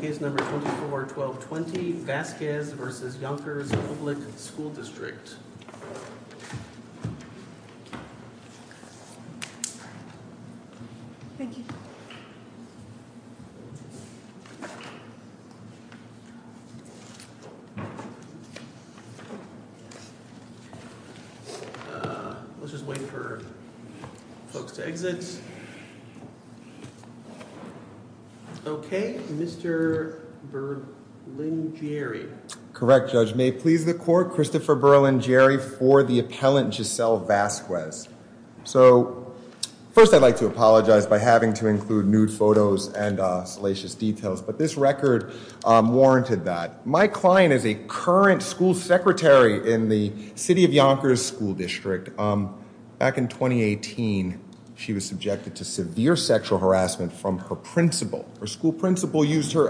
Case No. 24-12-20 Vasquez v. Yonkers Public School District Christopher Berlingeri Christopher Berlingeri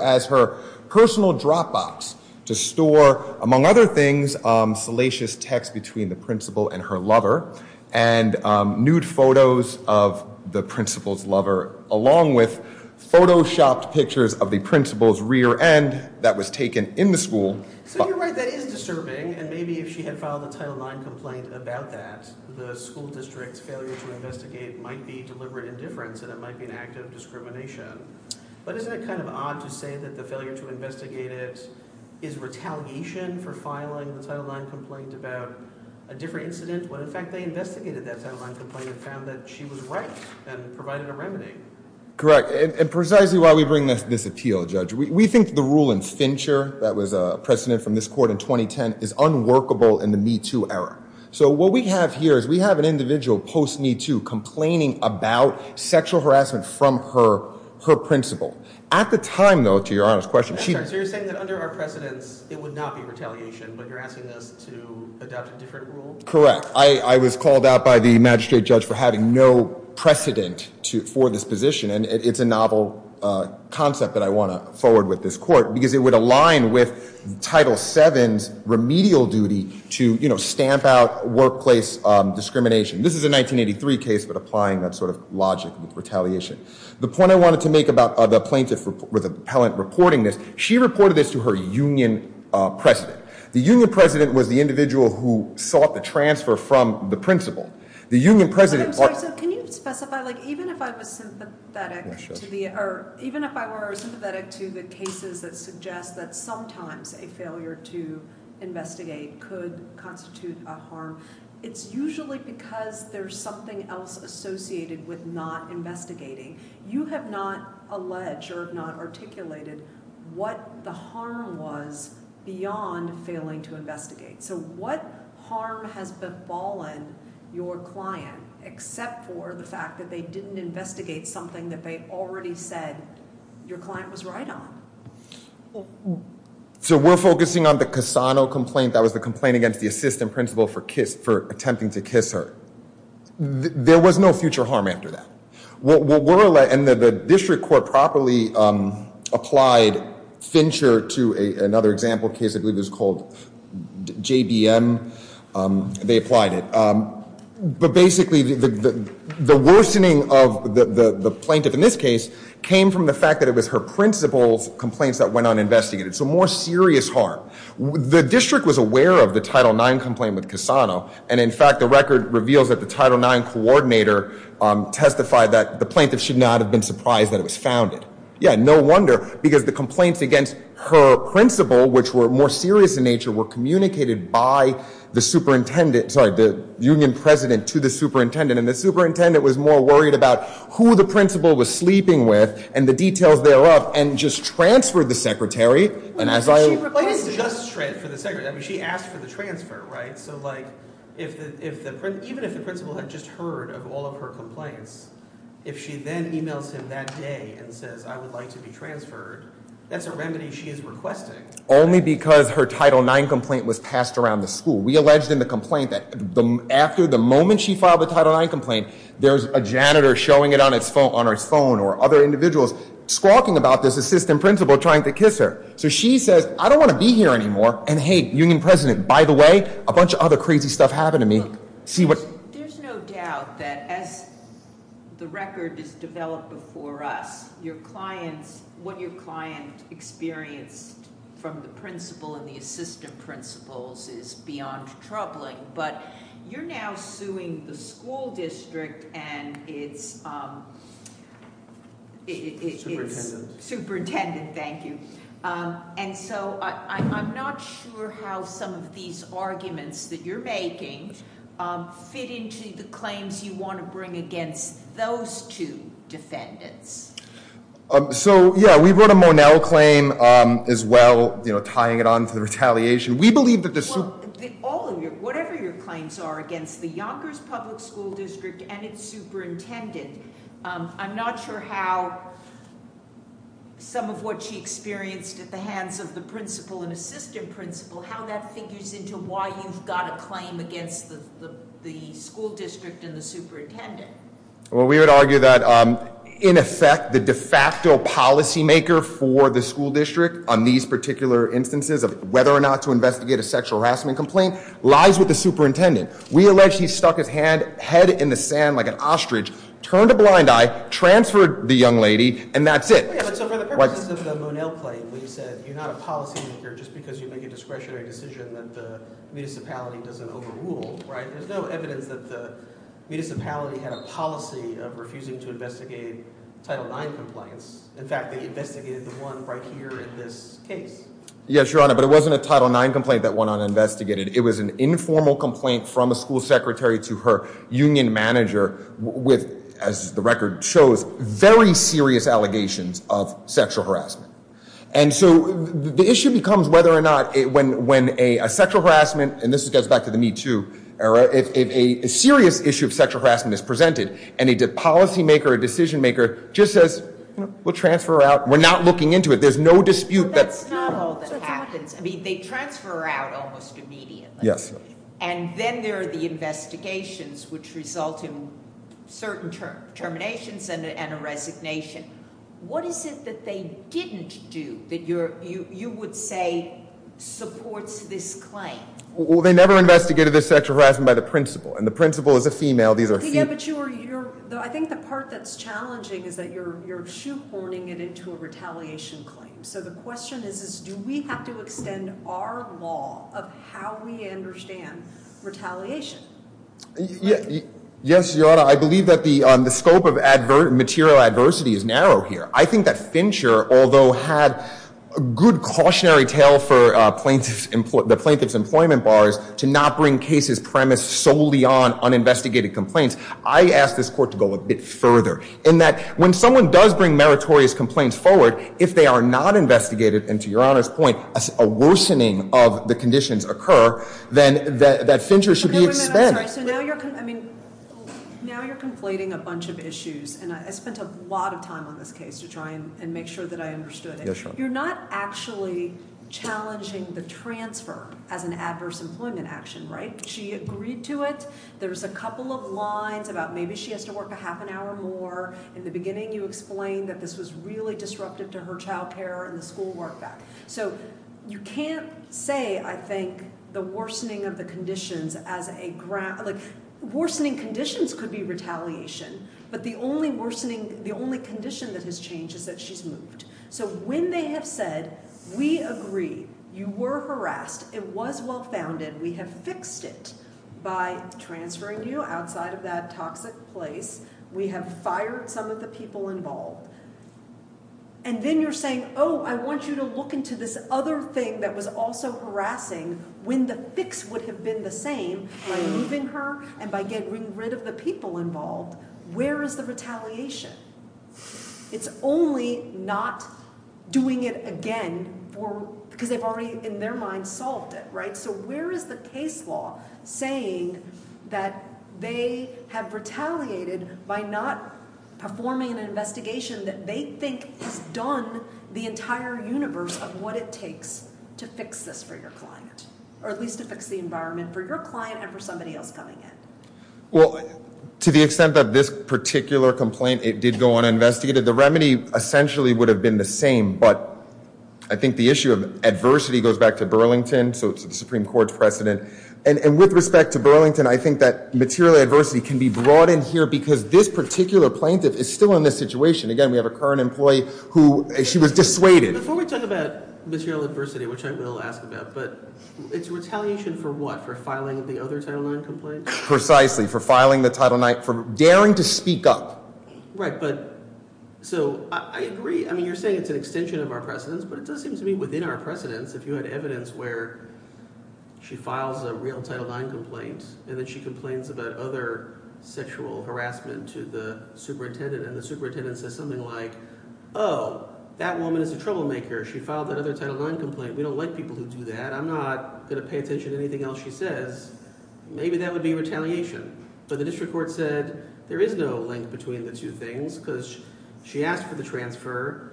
has her personal Dropbox to store, among other things, salacious text between the principal and her lover and nude photos of the principal's lover, along with photoshopped pictures of the principal's rear end that was taken in the school. So you're right, that is disturbing, and maybe if she had filed a Title IX complaint about that, the school district's failure to investigate might be deliberate indifference and it might be an act of discrimination. But isn't it kind of odd to say that the failure to investigate it is retaliation for filing the Title IX complaint about a different incident when, in fact, they investigated that Title IX complaint and found that she was right and provided a remedy? Correct. And precisely why we bring this appeal, Judge, we think the rule in Fincher that was a precedent from this court in 2010 is unworkable in the MeToo era. So what we have here is we have an individual post-MeToo complaining about sexual harassment from her principal. At the time, though, to your honest question, she... So you're saying that under our precedents, it would not be retaliation, but you're asking us to adopt a different rule? Correct. I was called out by the magistrate judge for having no precedent for this position. And it's a novel concept that I want to forward with this court because it would align with Title VII's remedial duty to stamp out workplace discrimination. This is a 1983 case, but applying that sort of logic with retaliation. The point I wanted to make about the plaintiff or the appellant reporting this, she reported this to her union president. The union president was the individual who sought the transfer from the principal. The union president... I'm sorry. So can you specify, like, even if I was sympathetic to the... Even if I were sympathetic to the cases that suggest that sometimes a failure to investigate could constitute a harm, it's usually because there's something else associated with not investigating. You have not alleged or not articulated what the harm was beyond failing to investigate. So what harm has befallen your client except for the fact that they didn't investigate something that they already said your client was right on? So we're focusing on the Cassano complaint. That was the complaint against the assistant principal for attempting to kiss her. There was no future harm after that. And the district court properly applied Fincher to another example case, I believe it was called JBM. They applied it. But basically, the worsening of the plaintiff in this case came from the fact that it was her principal's complaints that went uninvestigated. So more serious harm. The district was aware of the Title IX complaint with Cassano. And in fact, the record reveals that the Title IX coordinator testified that the plaintiff should not have been surprised that it was founded. Yeah, no wonder. Because the complaints against her principal, which were more serious in nature, were communicated by the superintendent... Sorry, the union president to the superintendent. And the superintendent was more worried about who the principal was sleeping with and the details thereof and just transferred the secretary. And as I... I mean, she asked for the transfer, right? So like, even if the principal had just heard of all of her complaints, if she then emails him that day and says, I would like to be transferred, that's a remedy she is requesting. Only because her Title IX complaint was passed around the school. We alleged in the complaint that after the moment she filed the Title IX complaint, there's a janitor showing it on her phone or other individuals squawking about this assistant principal trying to kiss her. So she says, I don't want to be here anymore. And hey, union president, by the way, a bunch of other crazy stuff happened to me. See what... There's no doubt that as the record is developed before us, what your client experienced from the principal and the assistant principals is beyond troubling. But you're now suing the school district and it's... Superintendent, thank you. And so I'm not sure how some of these arguments that you're making fit into the claims you want to bring against those two defendants. So, yeah, we wrote a Monell claim as well, tying it on to the retaliation. We believe that the... Well, all of your, whatever your claims are against the Yonkers Public School District and its superintendent, I'm not sure how some of what she experienced at the hands of the principal and assistant principal, how that figures into why you've got a claim against the school district and the superintendent. Well, we would argue that, in effect, the de facto policymaker for the school district on these particular instances of whether or not to investigate a sexual harassment complaint lies with the superintendent. We allege he stuck his head in the sand like an ostrich, turned a blind eye, transferred the young lady, and that's it. So for the purposes of the Monell claim, you said you're not a policymaker just because you make a discretionary decision that the municipality doesn't overrule, right? There's no evidence that the municipality had a policy of refusing to investigate Title IX complaints. In fact, they investigated the one right here in this case. Yes, Your Honor, but it wasn't a Title IX complaint that went uninvestigated. It was an informal complaint from a school secretary to her union manager with, as the record shows, very serious allegations of sexual harassment. And so the issue becomes whether or not when a sexual harassment, and this goes back to the Me Too era, if a serious issue of sexual harassment is presented and a policymaker or decision maker just says, we'll transfer her out, we're not looking into it. There's no dispute. That's not all that happens. I mean, they transfer her out almost immediately. Yes. And then there are the investigations, which result in certain terminations and a resignation. What is it that they didn't do that you would say supports this claim? Well, they never investigated this sexual harassment by the principal, and the principal is a female. Yeah, but I think the part that's challenging is that you're shoehorning it into a retaliation claim. So the question is, do we have to extend our law of how we understand retaliation? Yes, Your Honor. I believe that the scope of material adversity is narrow here. I think that Fincher, although had a good cautionary tale for the plaintiff's employment bars to not bring cases premised solely on uninvestigated complaints, I ask this court to go a bit further in that when someone does bring meritorious complaints forward, if they are not investigated, and to Your Honor's point, a worsening of the conditions occur, then that Fincher should be expended. Now you're conflating a bunch of issues, and I spent a lot of time on this case to try and make sure that I understood it. You're not actually challenging the transfer as an adverse employment action, right? She agreed to it. There's a couple of lines about maybe she has to work a half an hour more. In the beginning, you explained that this was really disruptive to her child care and the school work back. So you can't say, I think, the worsening of the conditions as a – like, worsening conditions could be retaliation, but the only worsening – the only condition that has changed is that she's moved. So when they have said, we agree, you were harassed, it was well-founded, we have fixed it by transferring you outside of that toxic place. We have fired some of the people involved. And then you're saying, oh, I want you to look into this other thing that was also harassing when the fix would have been the same by moving her and by getting rid of the people involved. Where is the retaliation? It's only not doing it again for – because they've already, in their mind, solved it, right? So where is the case law saying that they have retaliated by not performing an investigation that they think has done the entire universe of what it takes to fix this for your client, or at least to fix the environment for your client and for somebody else coming in? Well, to the extent that this particular complaint, it did go uninvestigated, the remedy essentially would have been the same. But I think the issue of adversity goes back to Burlington, so it's the Supreme Court's precedent. And with respect to Burlington, I think that material adversity can be brought in here because this particular plaintiff is still in this situation. Again, we have a current employee who – she was dissuaded. Before we talk about material adversity, which I will ask about, but it's retaliation for what? For filing the other Title IX complaint? Precisely, for filing the Title IX – for daring to speak up. Right, but – so I agree. I mean you're saying it's an extension of our precedence, but it does seem to be within our precedence. If you had evidence where she files a real Title IX complaint and then she complains about other sexual harassment to the superintendent, and the superintendent says something like, oh, that woman is a troublemaker. She filed that other Title IX complaint. We don't like people who do that. I'm not going to pay attention to anything else she says. Maybe that would be retaliation. But the district court said there is no link between the two things because she asked for the transfer,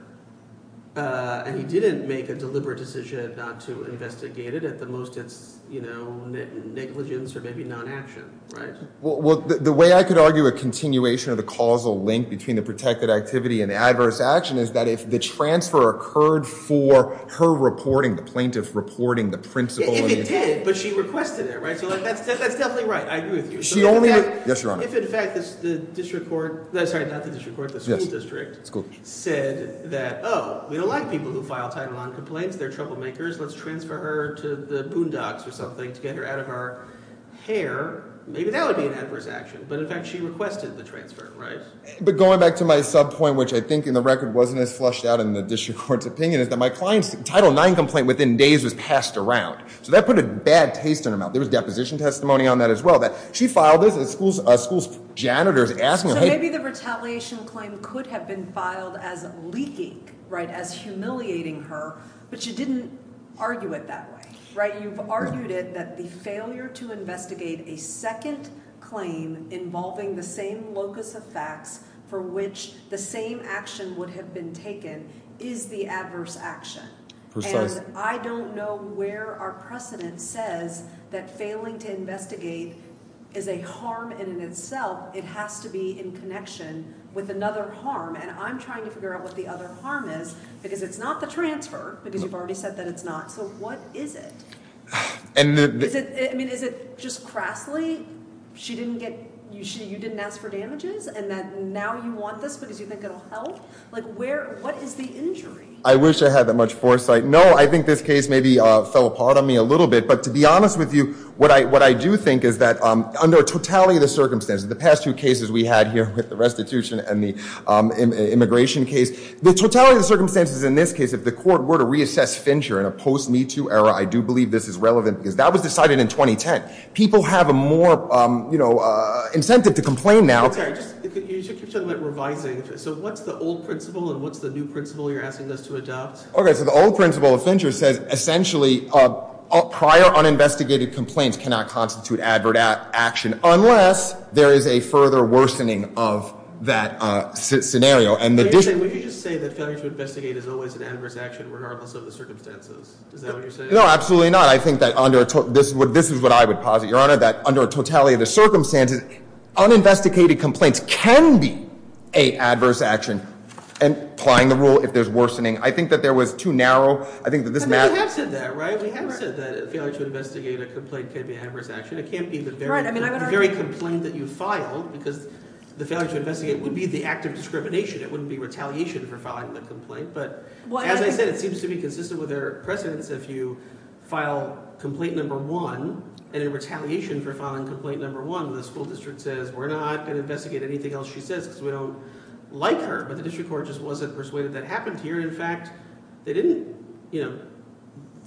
and he didn't make a deliberate decision not to investigate it. At the most, it's negligence or maybe non-action, right? Well, the way I could argue a continuation of the causal link between the protected activity and adverse action is that if the transfer occurred for her reporting, the plaintiff reporting, the principal – If it did, but she requested it, right? That's definitely right. I agree with you. Yes, Your Honor. If in fact the district court – sorry, not the district court, the school district said that, oh, we don't like people who file Title IX complaints. They're troublemakers. Let's transfer her to the boondocks or something to get her out of her hair. Maybe that would be an adverse action. But in fact, she requested the transfer, right? But going back to my sub point, which I think in the record wasn't as flushed out in the district court's opinion, is that my client's Title IX complaint within days was passed around. So that put a bad taste in her mouth. There was deposition testimony on that as well. She filed this and the school's janitor is asking her – So maybe the retaliation claim could have been filed as leaking, right, as humiliating her, but you didn't argue it that way, right? You've argued it that the failure to investigate a second claim involving the same locus of facts for which the same action would have been taken is the adverse action. And I don't know where our precedent says that failing to investigate is a harm in and of itself. It has to be in connection with another harm. And I'm trying to figure out what the other harm is because it's not the transfer because you've already said that it's not. So what is it? I mean, is it just crassly? She didn't get – you didn't ask for damages and now you want this because you think it will help? Like where – what is the injury? I wish I had that much foresight. No, I think this case maybe fell apart on me a little bit. But to be honest with you, what I do think is that under totality of the circumstances, the past two cases we had here with the restitution and the immigration case, the totality of the circumstances in this case, if the court were to reassess Fincher in a post-MeToo era, I do believe this is relevant because that was decided in 2010. People have a more incentive to complain now. I'm sorry. You keep talking about revising. So what's the old principle and what's the new principle you're asking us to adopt? Okay. So the old principle of Fincher says essentially prior uninvestigated complaints cannot constitute advert action unless there is a further worsening of that scenario. Would you say that failure to investigate is always an adverse action regardless of the circumstances? Is that what you're saying? No, absolutely not. I think that under – this is what I would posit, Your Honor, that under totality of the circumstances, uninvestigated complaints can be an adverse action and applying the rule if there's worsening. I think that there was too narrow – I think that this matter – But we have said that, right? We have said that failure to investigate a complaint can be an adverse action. It can't be the very complaint that you filed because the failure to investigate would be the act of discrimination. It wouldn't be retaliation for filing the complaint. But as I said, it seems to be consistent with her precedence. If you file complaint number one and in retaliation for filing complaint number one, the school district says, we're not going to investigate anything else she says because we don't like her. But the district court just wasn't persuaded that happened here. In fact, they didn't –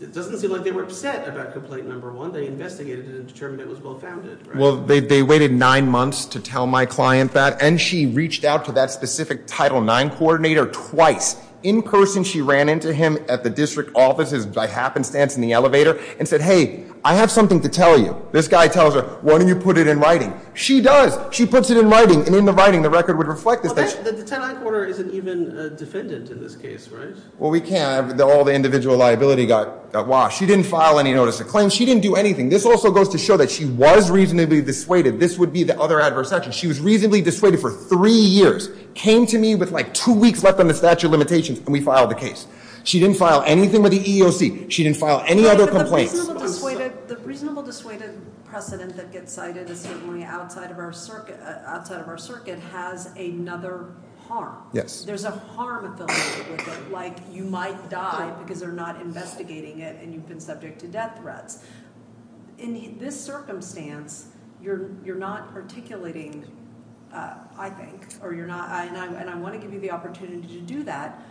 it doesn't seem like they were upset about complaint number one. They investigated it and determined it was well-founded. Well, they waited nine months to tell my client that, and she reached out to that specific Title IX coordinator twice. In person, she ran into him at the district office's by happenstance in the elevator and said, hey, I have something to tell you. This guy tells her, why don't you put it in writing? She does. She puts it in writing, and in the writing, the record would reflect this. The Title IX coordinator isn't even a defendant in this case, right? Well, we can't. All the individual liability got washed. She didn't file any notice of claims. She didn't do anything. This also goes to show that she was reasonably dissuaded. This would be the other adverse action. She was reasonably dissuaded for three years, came to me with like two weeks left on the statute of limitations, and we filed the case. She didn't file anything with the EEOC. She didn't file any other complaints. But the reasonable dissuaded precedent that gets cited is certainly outside of our circuit has another harm. Yes. There's a harm affiliated with it, like you might die because they're not investigating it and you've been subject to death threats. In this circumstance, you're not articulating, I think, or you're not. And I want to give you the opportunity to do that.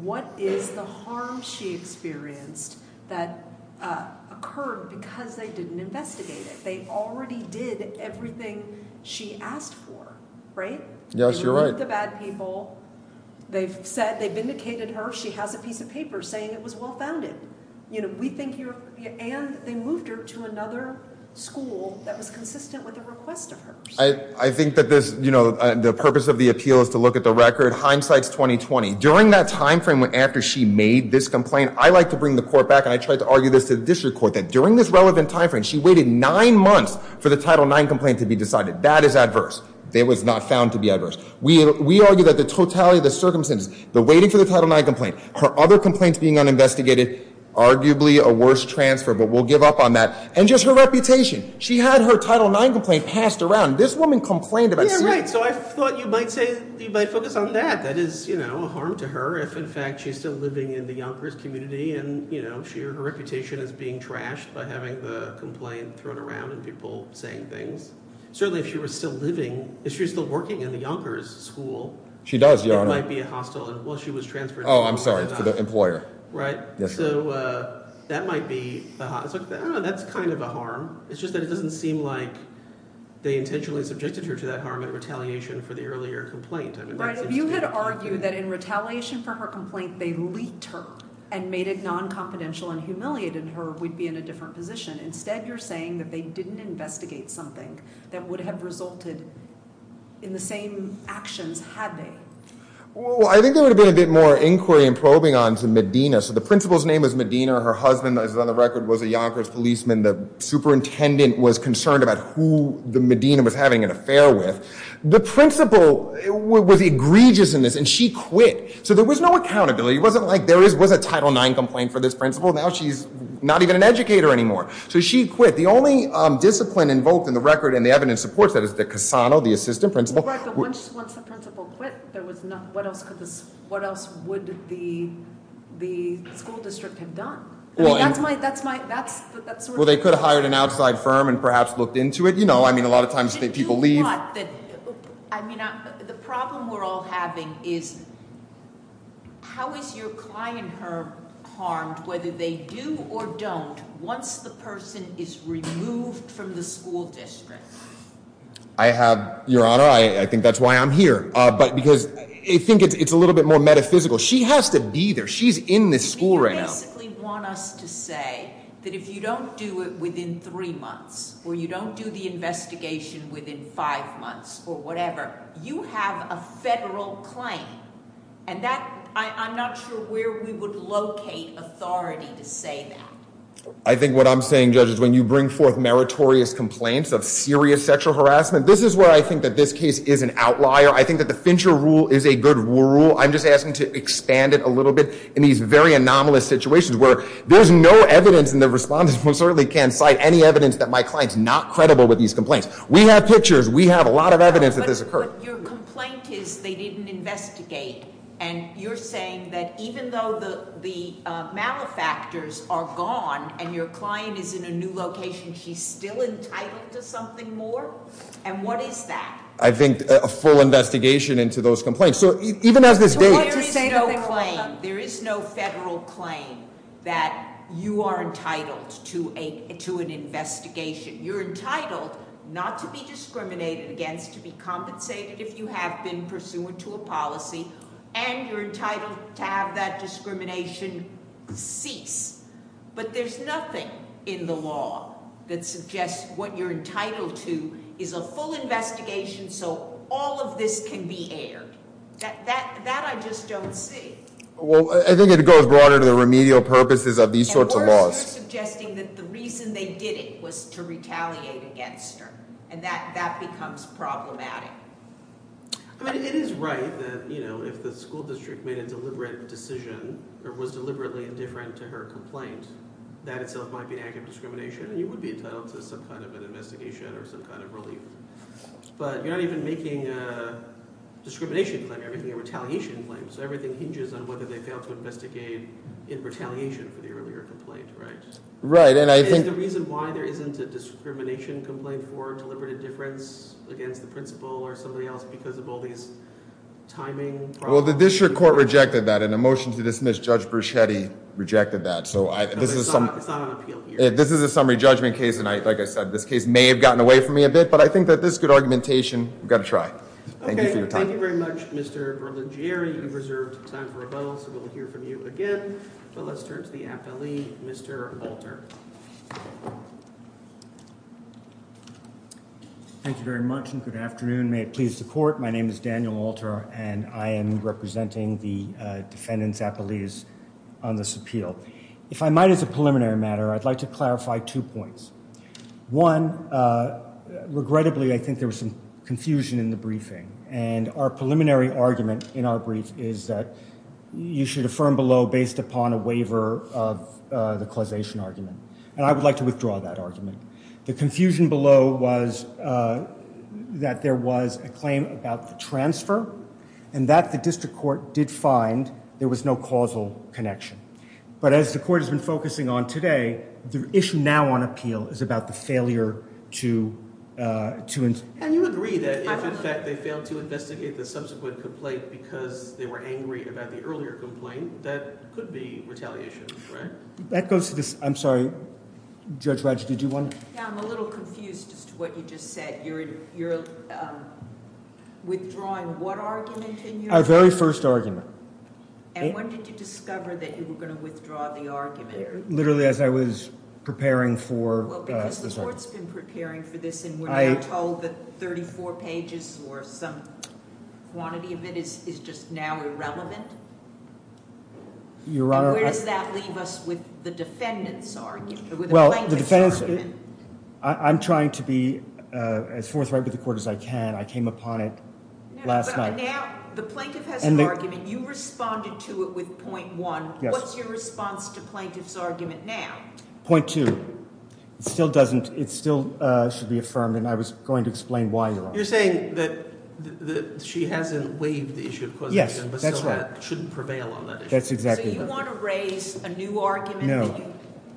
What is the harm she experienced that occurred because they didn't investigate it? They already did everything she asked for, right? Yes, you're right. You know the bad people. They've said they've vindicated her. She has a piece of paper saying it was well-founded. And they moved her to another school that was consistent with the request of hers. I think that the purpose of the appeal is to look at the record. Hindsight's 20-20. During that time frame after she made this complaint, I like to bring the court back, and I tried to argue this to the district court, that during this relevant time frame, she waited nine months for the Title IX complaint to be decided. That is adverse. It was not found to be adverse. We argue that the totality of the circumstances, the waiting for the Title IX complaint, her other complaints being uninvestigated, arguably a worse transfer, but we'll give up on that. And just her reputation. She had her Title IX complaint passed around. This woman complained about it. Yeah, right. So I thought you might say you might focus on that. That is a harm to her if, in fact, she's still living in the Yonkers community, and her reputation is being trashed by having the complaint thrown around and people saying things. Certainly if she was still living, if she was still working in the Yonkers school. She does, Your Honor. It might be hostile. Oh, I'm sorry. For the employer. Yes, Your Honor. So that might be, I don't know, that's kind of a harm. It's just that it doesn't seem like they intentionally subjected her to that harm in retaliation for the earlier complaint. Right. If you had argued that in retaliation for her complaint they leaked her and made it non-confidential and humiliated her, we'd be in a different position. Instead, you're saying that they didn't investigate something that would have resulted in the same actions had they. Well, I think there would have been a bit more inquiry and probing onto Medina. So the principal's name is Medina. Her husband, as is on the record, was a Yonkers policeman. The superintendent was concerned about who the Medina was having an affair with. The principal was egregious in this, and she quit. So there was no accountability. It wasn't like there was a Title IX complaint for this principal. Now she's not even an educator anymore. So she quit. The only discipline invoked in the record and the evidence supports that is the Cassano, the assistant principal. But once the principal quit, what else would the school district have done? I mean, that's my— Well, they could have hired an outside firm and perhaps looked into it. I mean, a lot of times people leave. I mean, the problem we're all having is how is your client harmed, whether they do or don't, once the person is removed from the school district? Your Honor, I think that's why I'm here, because I think it's a little bit more metaphysical. She has to be there. She's in this school right now. You basically want us to say that if you don't do it within three months or you don't do the investigation within five months or whatever, you have a federal claim. And I'm not sure where we would locate authority to say that. I think what I'm saying, Judge, is when you bring forth meritorious complaints of serious sexual harassment, this is where I think that this case is an outlier. I think that the Fincher rule is a good rule. I'm just asking to expand it a little bit in these very anomalous situations where there's no evidence and the respondent certainly can't cite any evidence that my client's not credible with these complaints. We have pictures. We have a lot of evidence that this occurred. But your complaint is they didn't investigate. And you're saying that even though the malefactors are gone and your client is in a new location, she's still entitled to something more? And what is that? I think a full investigation into those complaints. So even as this date- There is no claim. There is no federal claim that you are entitled to an investigation. You're entitled not to be discriminated against, to be compensated if you have been pursuant to a policy. And you're entitled to have that discrimination cease. But there's nothing in the law that suggests what you're entitled to is a full investigation so all of this can be aired. That I just don't see. Well, I think it goes broader to the remedial purposes of these sorts of laws. You're suggesting that the reason they did it was to retaliate against her. And that becomes problematic. It is right that if the school district made a deliberate decision or was deliberately indifferent to her complaint, that itself might be an act of discrimination and you would be entitled to some kind of an investigation or some kind of relief. But you're not even making a discrimination claim. You're making a retaliation claim. So everything hinges on whether they failed to investigate in retaliation for the earlier complaint, right? Right, and I think- Is the reason why there isn't a discrimination complaint for deliberate indifference against the principal or somebody else because of all these timing problems? Well, the district court rejected that. In a motion to dismiss, Judge Bruschetti rejected that. It's not on appeal here. This is a summary judgment case, and like I said, this case may have gotten away from me a bit. But I think that this is good argumentation. We've got to try. Thank you for your time. Thank you very much, Mr. Berlingieri. You've reserved time for a bow, so we'll hear from you again. But let's turn to the appellee, Mr. Walter. Thank you very much and good afternoon. May it please the court, my name is Daniel Walter, and I am representing the defendant's appellees on this appeal. If I might, as a preliminary matter, I'd like to clarify two points. One, regrettably, I think there was some confusion in the briefing. And our preliminary argument in our brief is that you should affirm below based upon a waiver of the causation argument. And I would like to withdraw that argument. The confusion below was that there was a claim about the transfer, and that the district court did find there was no causal connection. But as the court has been focusing on today, the issue now on appeal is about the failure to ensure. And you agree that if, in fact, they failed to investigate the subsequent complaint because they were angry about the earlier complaint, that could be retaliation, right? That goes to the ‑‑ I'm sorry, Judge Raj, did you want to? Yeah, I'm a little confused as to what you just said. You're withdrawing what argument in your brief? Our very first argument. And when did you discover that you were going to withdraw the argument? Literally as I was preparing for ‑‑ Well, because the court's been preparing for this, and we're now told that 34 pages or some quantity of it is just now irrelevant. Your Honor, I ‑‑ Where does that leave us with the defendant's argument, with the plaintiff's argument? I'm trying to be as forthright with the court as I can. I came upon it last night. But now the plaintiff has an argument. You responded to it with point one. Yes. What's your response to plaintiff's argument now? Point two. It still doesn't ‑‑ it still should be affirmed, and I was going to explain why, Your Honor. You're saying that she hasn't waived the issue of causation. Yes, that's right. So that shouldn't prevail on that issue. That's exactly right. So you want to raise a new argument? No,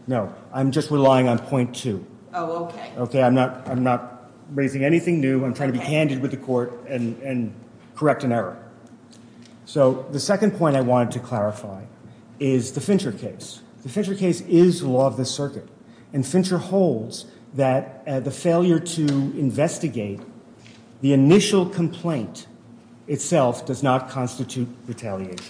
no. I'm just relying on point two. Oh, okay. Okay, I'm not raising anything new. I'm trying to be candid with the court and correct an error. So the second point I wanted to clarify is the Fincher case. The Fincher case is law of the circuit. And Fincher holds that the failure to investigate the initial complaint itself does not constitute retaliation.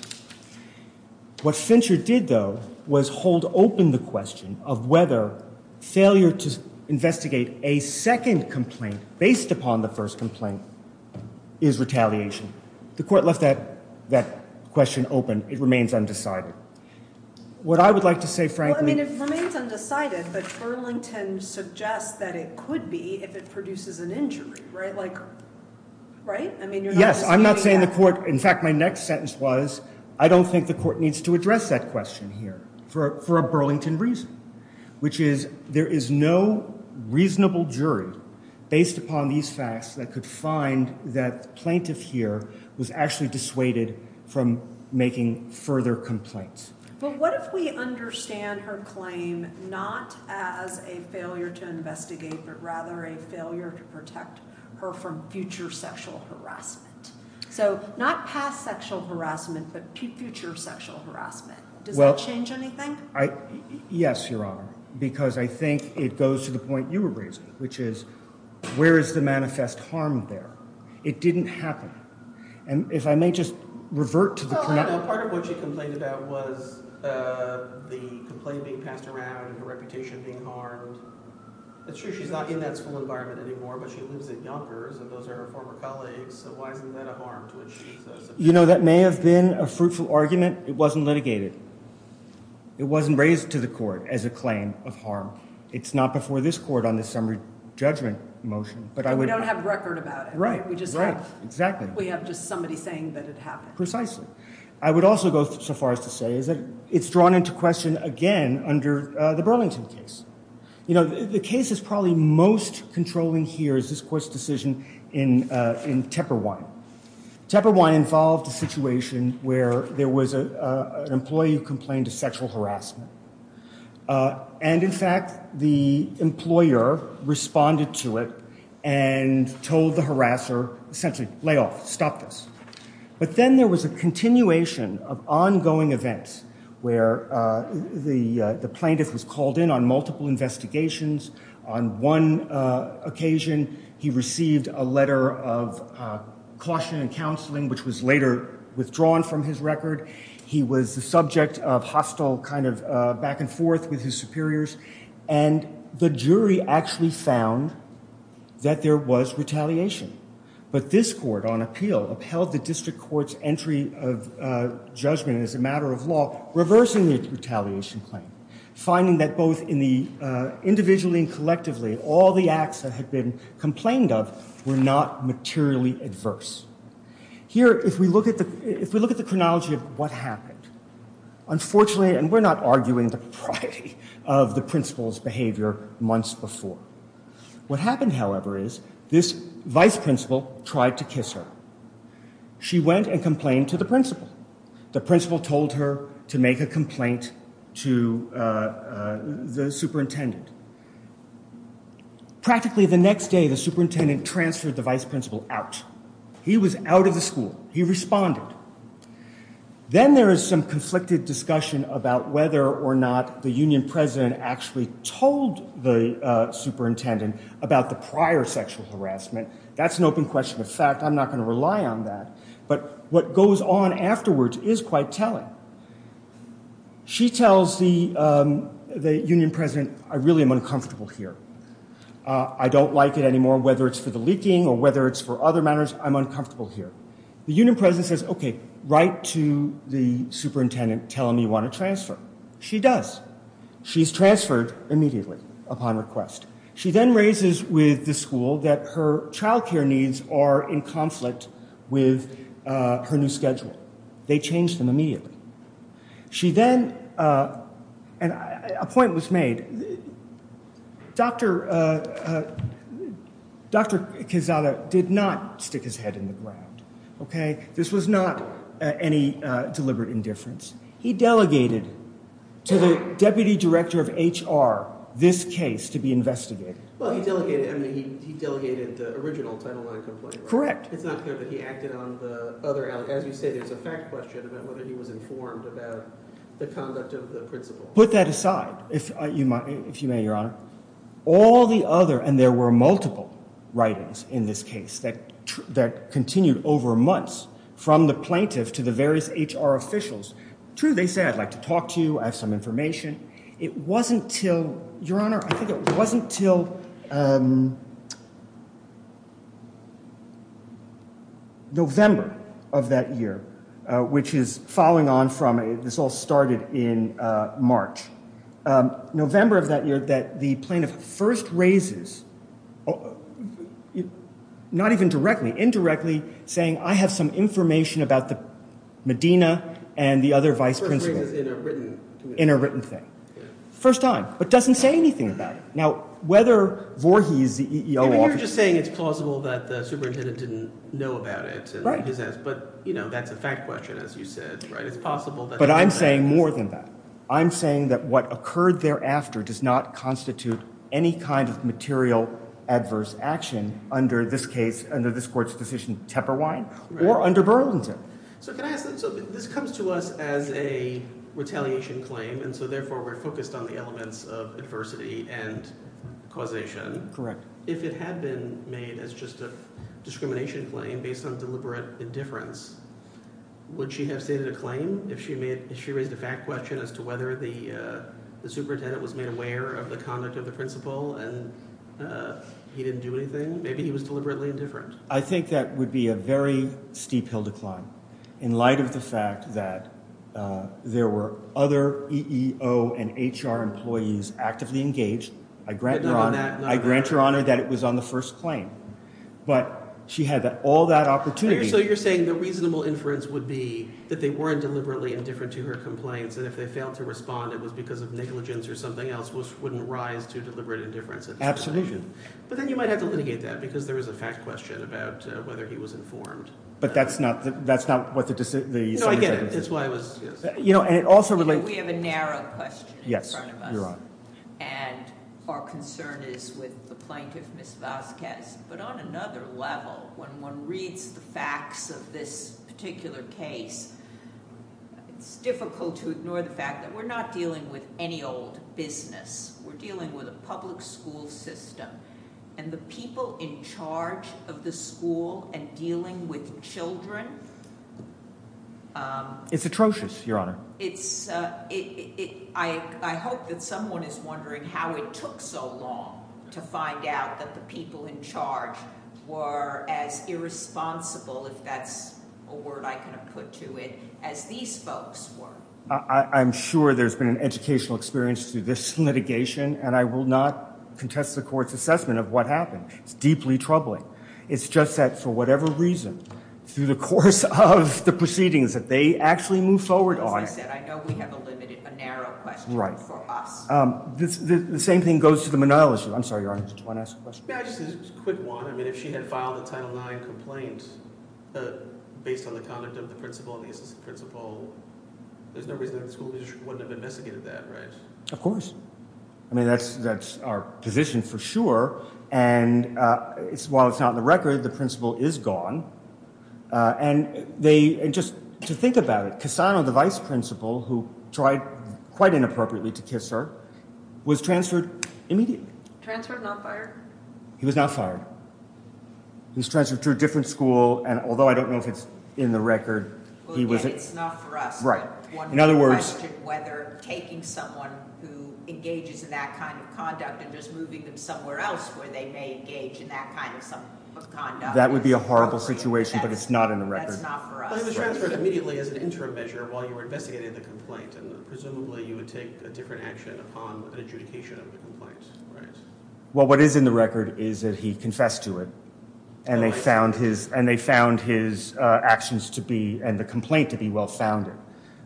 What Fincher did, though, was hold open the question of whether failure to investigate a second complaint based upon the first complaint is retaliation. The court left that question open. It remains undecided. What I would like to say, frankly ‑‑ Well, I mean, it remains undecided, but Burlington suggests that it could be if it produces an injury, right? Like, right? I mean, you're not disputing that. Yes, I'm not saying the court ‑‑ in fact, my next sentence was I don't think the court needs to address that question here for a Burlington reason, which is there is no reasonable jury based upon these facts that could find that plaintiff here was actually dissuaded from making further complaints. But what if we understand her claim not as a failure to investigate, but rather a failure to protect her from future sexual harassment? So not past sexual harassment, but future sexual harassment. Does that change anything? Yes, Your Honor, because I think it goes to the point you were raising, which is where is the manifest harm there? It didn't happen. And if I may just revert to the ‑‑ Well, I know part of what she complained about was the complaint being passed around and her reputation being harmed. It's true she's not in that school environment anymore, but she lives at Younger's, and those are her former colleagues. So why isn't that a harm to what she says? You know, that may have been a fruitful argument. It wasn't litigated. It wasn't raised to the court as a claim of harm. It's not before this court on the summary judgment motion. But we don't have record about it. Right, right, exactly. We just have just somebody saying that it happened. Precisely. I would also go so far as to say that it's drawn into question again under the Burlington case. You know, the case that's probably most controlling here is this court's decision in Tepperwine. Tepperwine involved a situation where there was an employee who complained of sexual harassment. And, in fact, the employer responded to it and told the harasser, essentially, lay off, stop this. But then there was a continuation of ongoing events where the plaintiff was called in on multiple investigations. On one occasion, he received a letter of caution and counseling, which was later withdrawn from his record. He was the subject of hostile kind of back and forth with his superiors. And the jury actually found that there was retaliation. But this court, on appeal, upheld the district court's entry of judgment as a matter of law, reversing the retaliation claim, finding that both individually and collectively, all the acts that had been complained of were not materially adverse. Here, if we look at the chronology of what happened, unfortunately, and we're not arguing the propriety of the principal's behavior months before. What happened, however, is this vice principal tried to kiss her. She went and complained to the principal. The principal told her to make a complaint to the superintendent. Practically the next day, the superintendent transferred the vice principal out. He was out of the school. He responded. Then there is some conflicted discussion about whether or not the union president actually told the superintendent about the prior sexual harassment. That's an open question. In fact, I'm not going to rely on that. But what goes on afterwards is quite telling. She tells the union president, I really am uncomfortable here. I don't like it anymore, whether it's for the leaking or whether it's for other matters. I'm uncomfortable here. The union president says, okay, write to the superintendent, tell him you want to transfer. She does. She's transferred immediately upon request. She then raises with the school that her child care needs are in conflict with her new schedule. They change them immediately. She then, and a point was made, Dr. Kizada did not stick his head in the ground, okay? This was not any deliberate indifference. He delegated to the deputy director of HR this case to be investigated. Well, he delegated the original Title IX complaint. Correct. It's not clear that he acted on the other. As you say, there's a fact question about whether he was informed about the conduct of the principal. Put that aside, if you may, Your Honor. All the other, and there were multiple writings in this case that continued over months from the plaintiff to the various HR officials. True, they said, I'd like to talk to you. I have some information. It wasn't until, Your Honor, I think it wasn't until November of that year, which is following on from, this all started in March. November of that year that the plaintiff first raises, not even directly, indirectly saying, I have some information about the Medina and the other vice principal. First raises in a written thing. In a written thing. First time, but doesn't say anything about it. Now, whether Voorhees, the EEO officer. You're just saying it's plausible that the superintendent didn't know about it. Right. But, you know, that's a fact question, as you said, right? It's possible that. But I'm saying more than that. I'm saying that what occurred thereafter does not constitute any kind of material adverse action under this case, under this court's decision, Tepperwine, or under Burlington. So can I ask, this comes to us as a retaliation claim, and so therefore we're focused on the elements of adversity and causation. Correct. If it had been made as just a discrimination claim based on deliberate indifference, would she have stated a claim? If she raised a fact question as to whether the superintendent was made aware of the conduct of the principal and he didn't do anything? Maybe he was deliberately indifferent. I think that would be a very steep hill to climb in light of the fact that there were other EEO and HR employees actively engaged. I grant your honor that it was on the first claim. But she had all that opportunity. So you're saying the reasonable inference would be that they weren't deliberately indifferent to her complaints, and if they failed to respond it was because of negligence or something else, which wouldn't rise to deliberate indifference at this point. Absolutely. But then you might have to litigate that because there was a fact question about whether he was informed. But that's not what the- No, I get it. That's why I was- You know, and it also relates- We have a narrow question in front of us. Yes, your honor. And our concern is with the plaintiff, Ms. Vasquez. But on another level, when one reads the facts of this particular case, it's difficult to ignore the fact that we're not dealing with any old business. We're dealing with a public school system. And the people in charge of the school and dealing with children- It's atrocious, your honor. I hope that someone is wondering how it took so long to find out that the people in charge were as irresponsible, if that's a word I can put to it, as these folks were. I'm sure there's been an educational experience through this litigation, and I will not contest the court's assessment of what happened. It's deeply troubling. It's just that, for whatever reason, through the course of the proceedings that they actually move forward on- As I said, I know we have a narrow question for us. The same thing goes to the Monell issue. I'm sorry, your honor. Did you want to ask a question? Yeah, just a quick one. I mean, if she had filed a Title IX complaint based on the conduct of the principal and the assistant principal, there's no reason the school district wouldn't have investigated that, right? Of course. I mean, that's our position for sure. And while it's not in the record, the principal is gone. And just to think about it, Cassano, the vice principal, who tried quite inappropriately to kiss her, was transferred immediately. Transferred, not fired? He was not fired. He was transferred to a different school, and although I don't know if it's in the record, he was- Well, again, it's not for us. Right. In other words- One would question whether taking someone who engages in that kind of conduct and just moving them somewhere else where they may engage in that kind of conduct- That would be a horrible situation, but it's not in the record. That's not for us. But he was transferred immediately as an interim measure while you were investigating the complaint, and presumably you would take a different action upon an adjudication of the complaint, right? Well, what is in the record is that he confessed to it, and they found his actions and the complaint to be well-founded.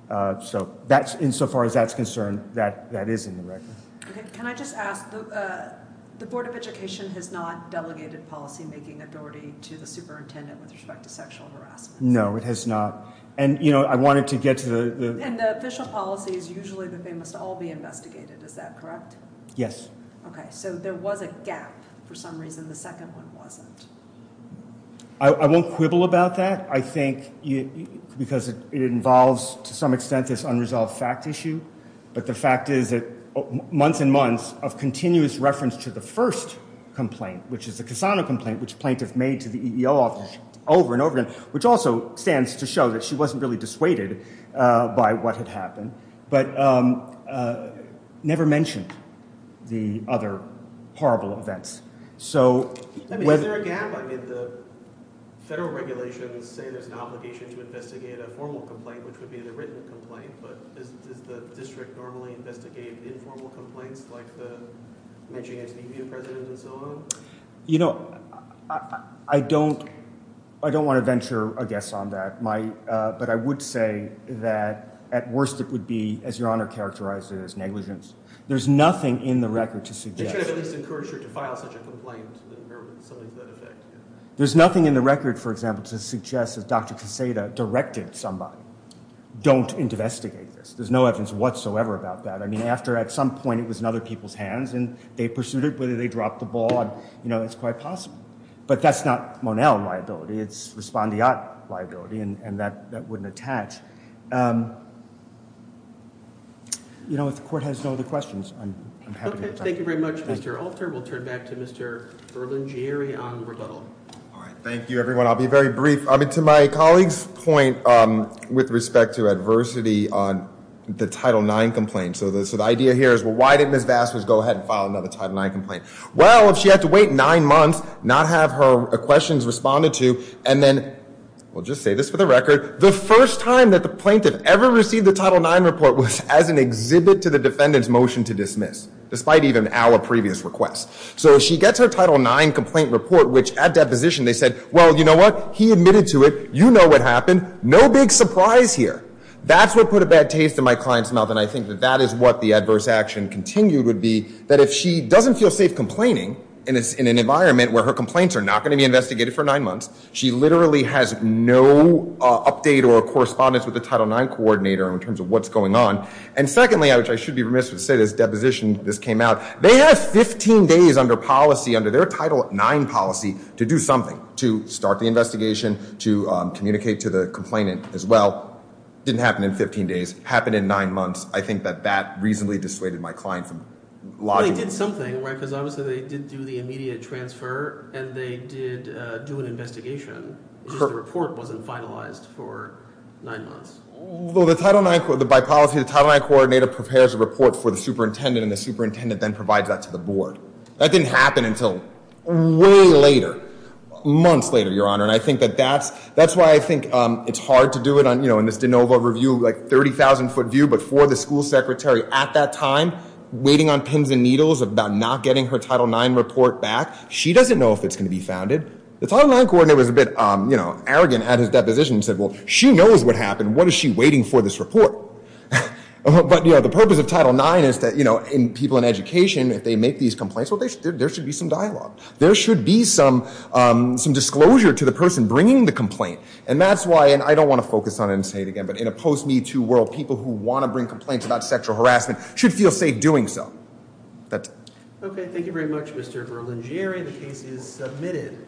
So insofar as that's concerned, that is in the record. Can I just ask, the Board of Education has not delegated policymaking authority to the superintendent with respect to sexual harassment. No, it has not. And I wanted to get to the- And the official policy is usually that they must all be investigated. Is that correct? Yes. Okay. So there was a gap for some reason. The second one wasn't. I won't quibble about that, I think, because it involves, to some extent, this unresolved fact issue. But the fact is that months and months of continuous reference to the first complaint, which is the Cassano complaint, which plaintiffs made to the EEO office over and over again, which also stands to show that she wasn't really dissuaded by what had happened, but never mentioned the other horrible events. So whether- I mean, is there a gap? I mean, the federal regulations say there's an obligation to investigate a formal complaint, which would be the written complaint. But does the district normally investigate informal complaints, like the mentioning it to the EEO president and so on? You know, I don't want to venture a guess on that. But I would say that, at worst, it would be, as Your Honor characterized it, as negligence. There's nothing in the record to suggest- They should have at least encouraged her to file such a complaint or something to that effect. There's nothing in the record, for example, to suggest that Dr. Quesada directed somebody, don't investigate this. There's no evidence whatsoever about that. I mean, after at some point it was in other people's hands and they pursued it, whether they dropped the ball, you know, it's quite possible. But that's not Monell liability. It's Respondiat liability, and that wouldn't attach. You know, if the court has no other questions, I'm happy to- Okay, thank you very much, Mr. Alter. We'll turn back to Mr. Berlingieri on the rebuttal. All right, thank you, everyone. I'll be very brief. I mean, to my colleague's point with respect to adversity on the Title IX complaint. So the idea here is, well, why didn't Ms. Vasquez go ahead and file another Title IX complaint? Well, if she had to wait nine months, not have her questions responded to, and then- We'll just say this for the record. The first time that the plaintiff ever received the Title IX report was as an exhibit to the defendant's motion to dismiss, despite even our previous requests. So if she gets her Title IX complaint report, which at deposition they said, well, you know what? He admitted to it. You know what happened. No big surprise here. That's what put a bad taste in my client's mouth. And I think that that is what the adverse action continued would be, that if she doesn't feel safe complaining in an environment where her complaints are not going to be investigated for nine months, she literally has no update or correspondence with the Title IX coordinator in terms of what's going on. And secondly, which I should be remiss to say, this deposition, this came out. They have 15 days under policy, under their Title IX policy, to do something, to start the investigation, to communicate to the complainant as well. Didn't happen in 15 days. Happened in nine months. I think that that reasonably dissuaded my client from logging in. Well, they did something, right? Because obviously they did do the immediate transfer, and they did do an investigation. The report wasn't finalized for nine months. Well, the Title IX, by policy, the Title IX coordinator prepares a report for the superintendent, and the superintendent then provides that to the board. That didn't happen until way later, months later, Your Honor. And I think that that's why I think it's hard to do it in this de novo review, like 30,000-foot view, but for the school secretary at that time waiting on pins and needles about not getting her Title IX report back. She doesn't know if it's going to be founded. The Title IX coordinator was a bit arrogant at his deposition and said, well, she knows what happened. What is she waiting for this report? But the purpose of Title IX is that people in education, if they make these complaints, well, there should be some dialogue. There should be some disclosure to the person bringing the complaint. And that's why, and I don't want to focus on it and say it again, but in a post-MeToo world, people who want to bring complaints about sexual harassment should feel safe doing so. That's it. Okay. Thank you very much, Mr. Berlingieri. The case is submitted.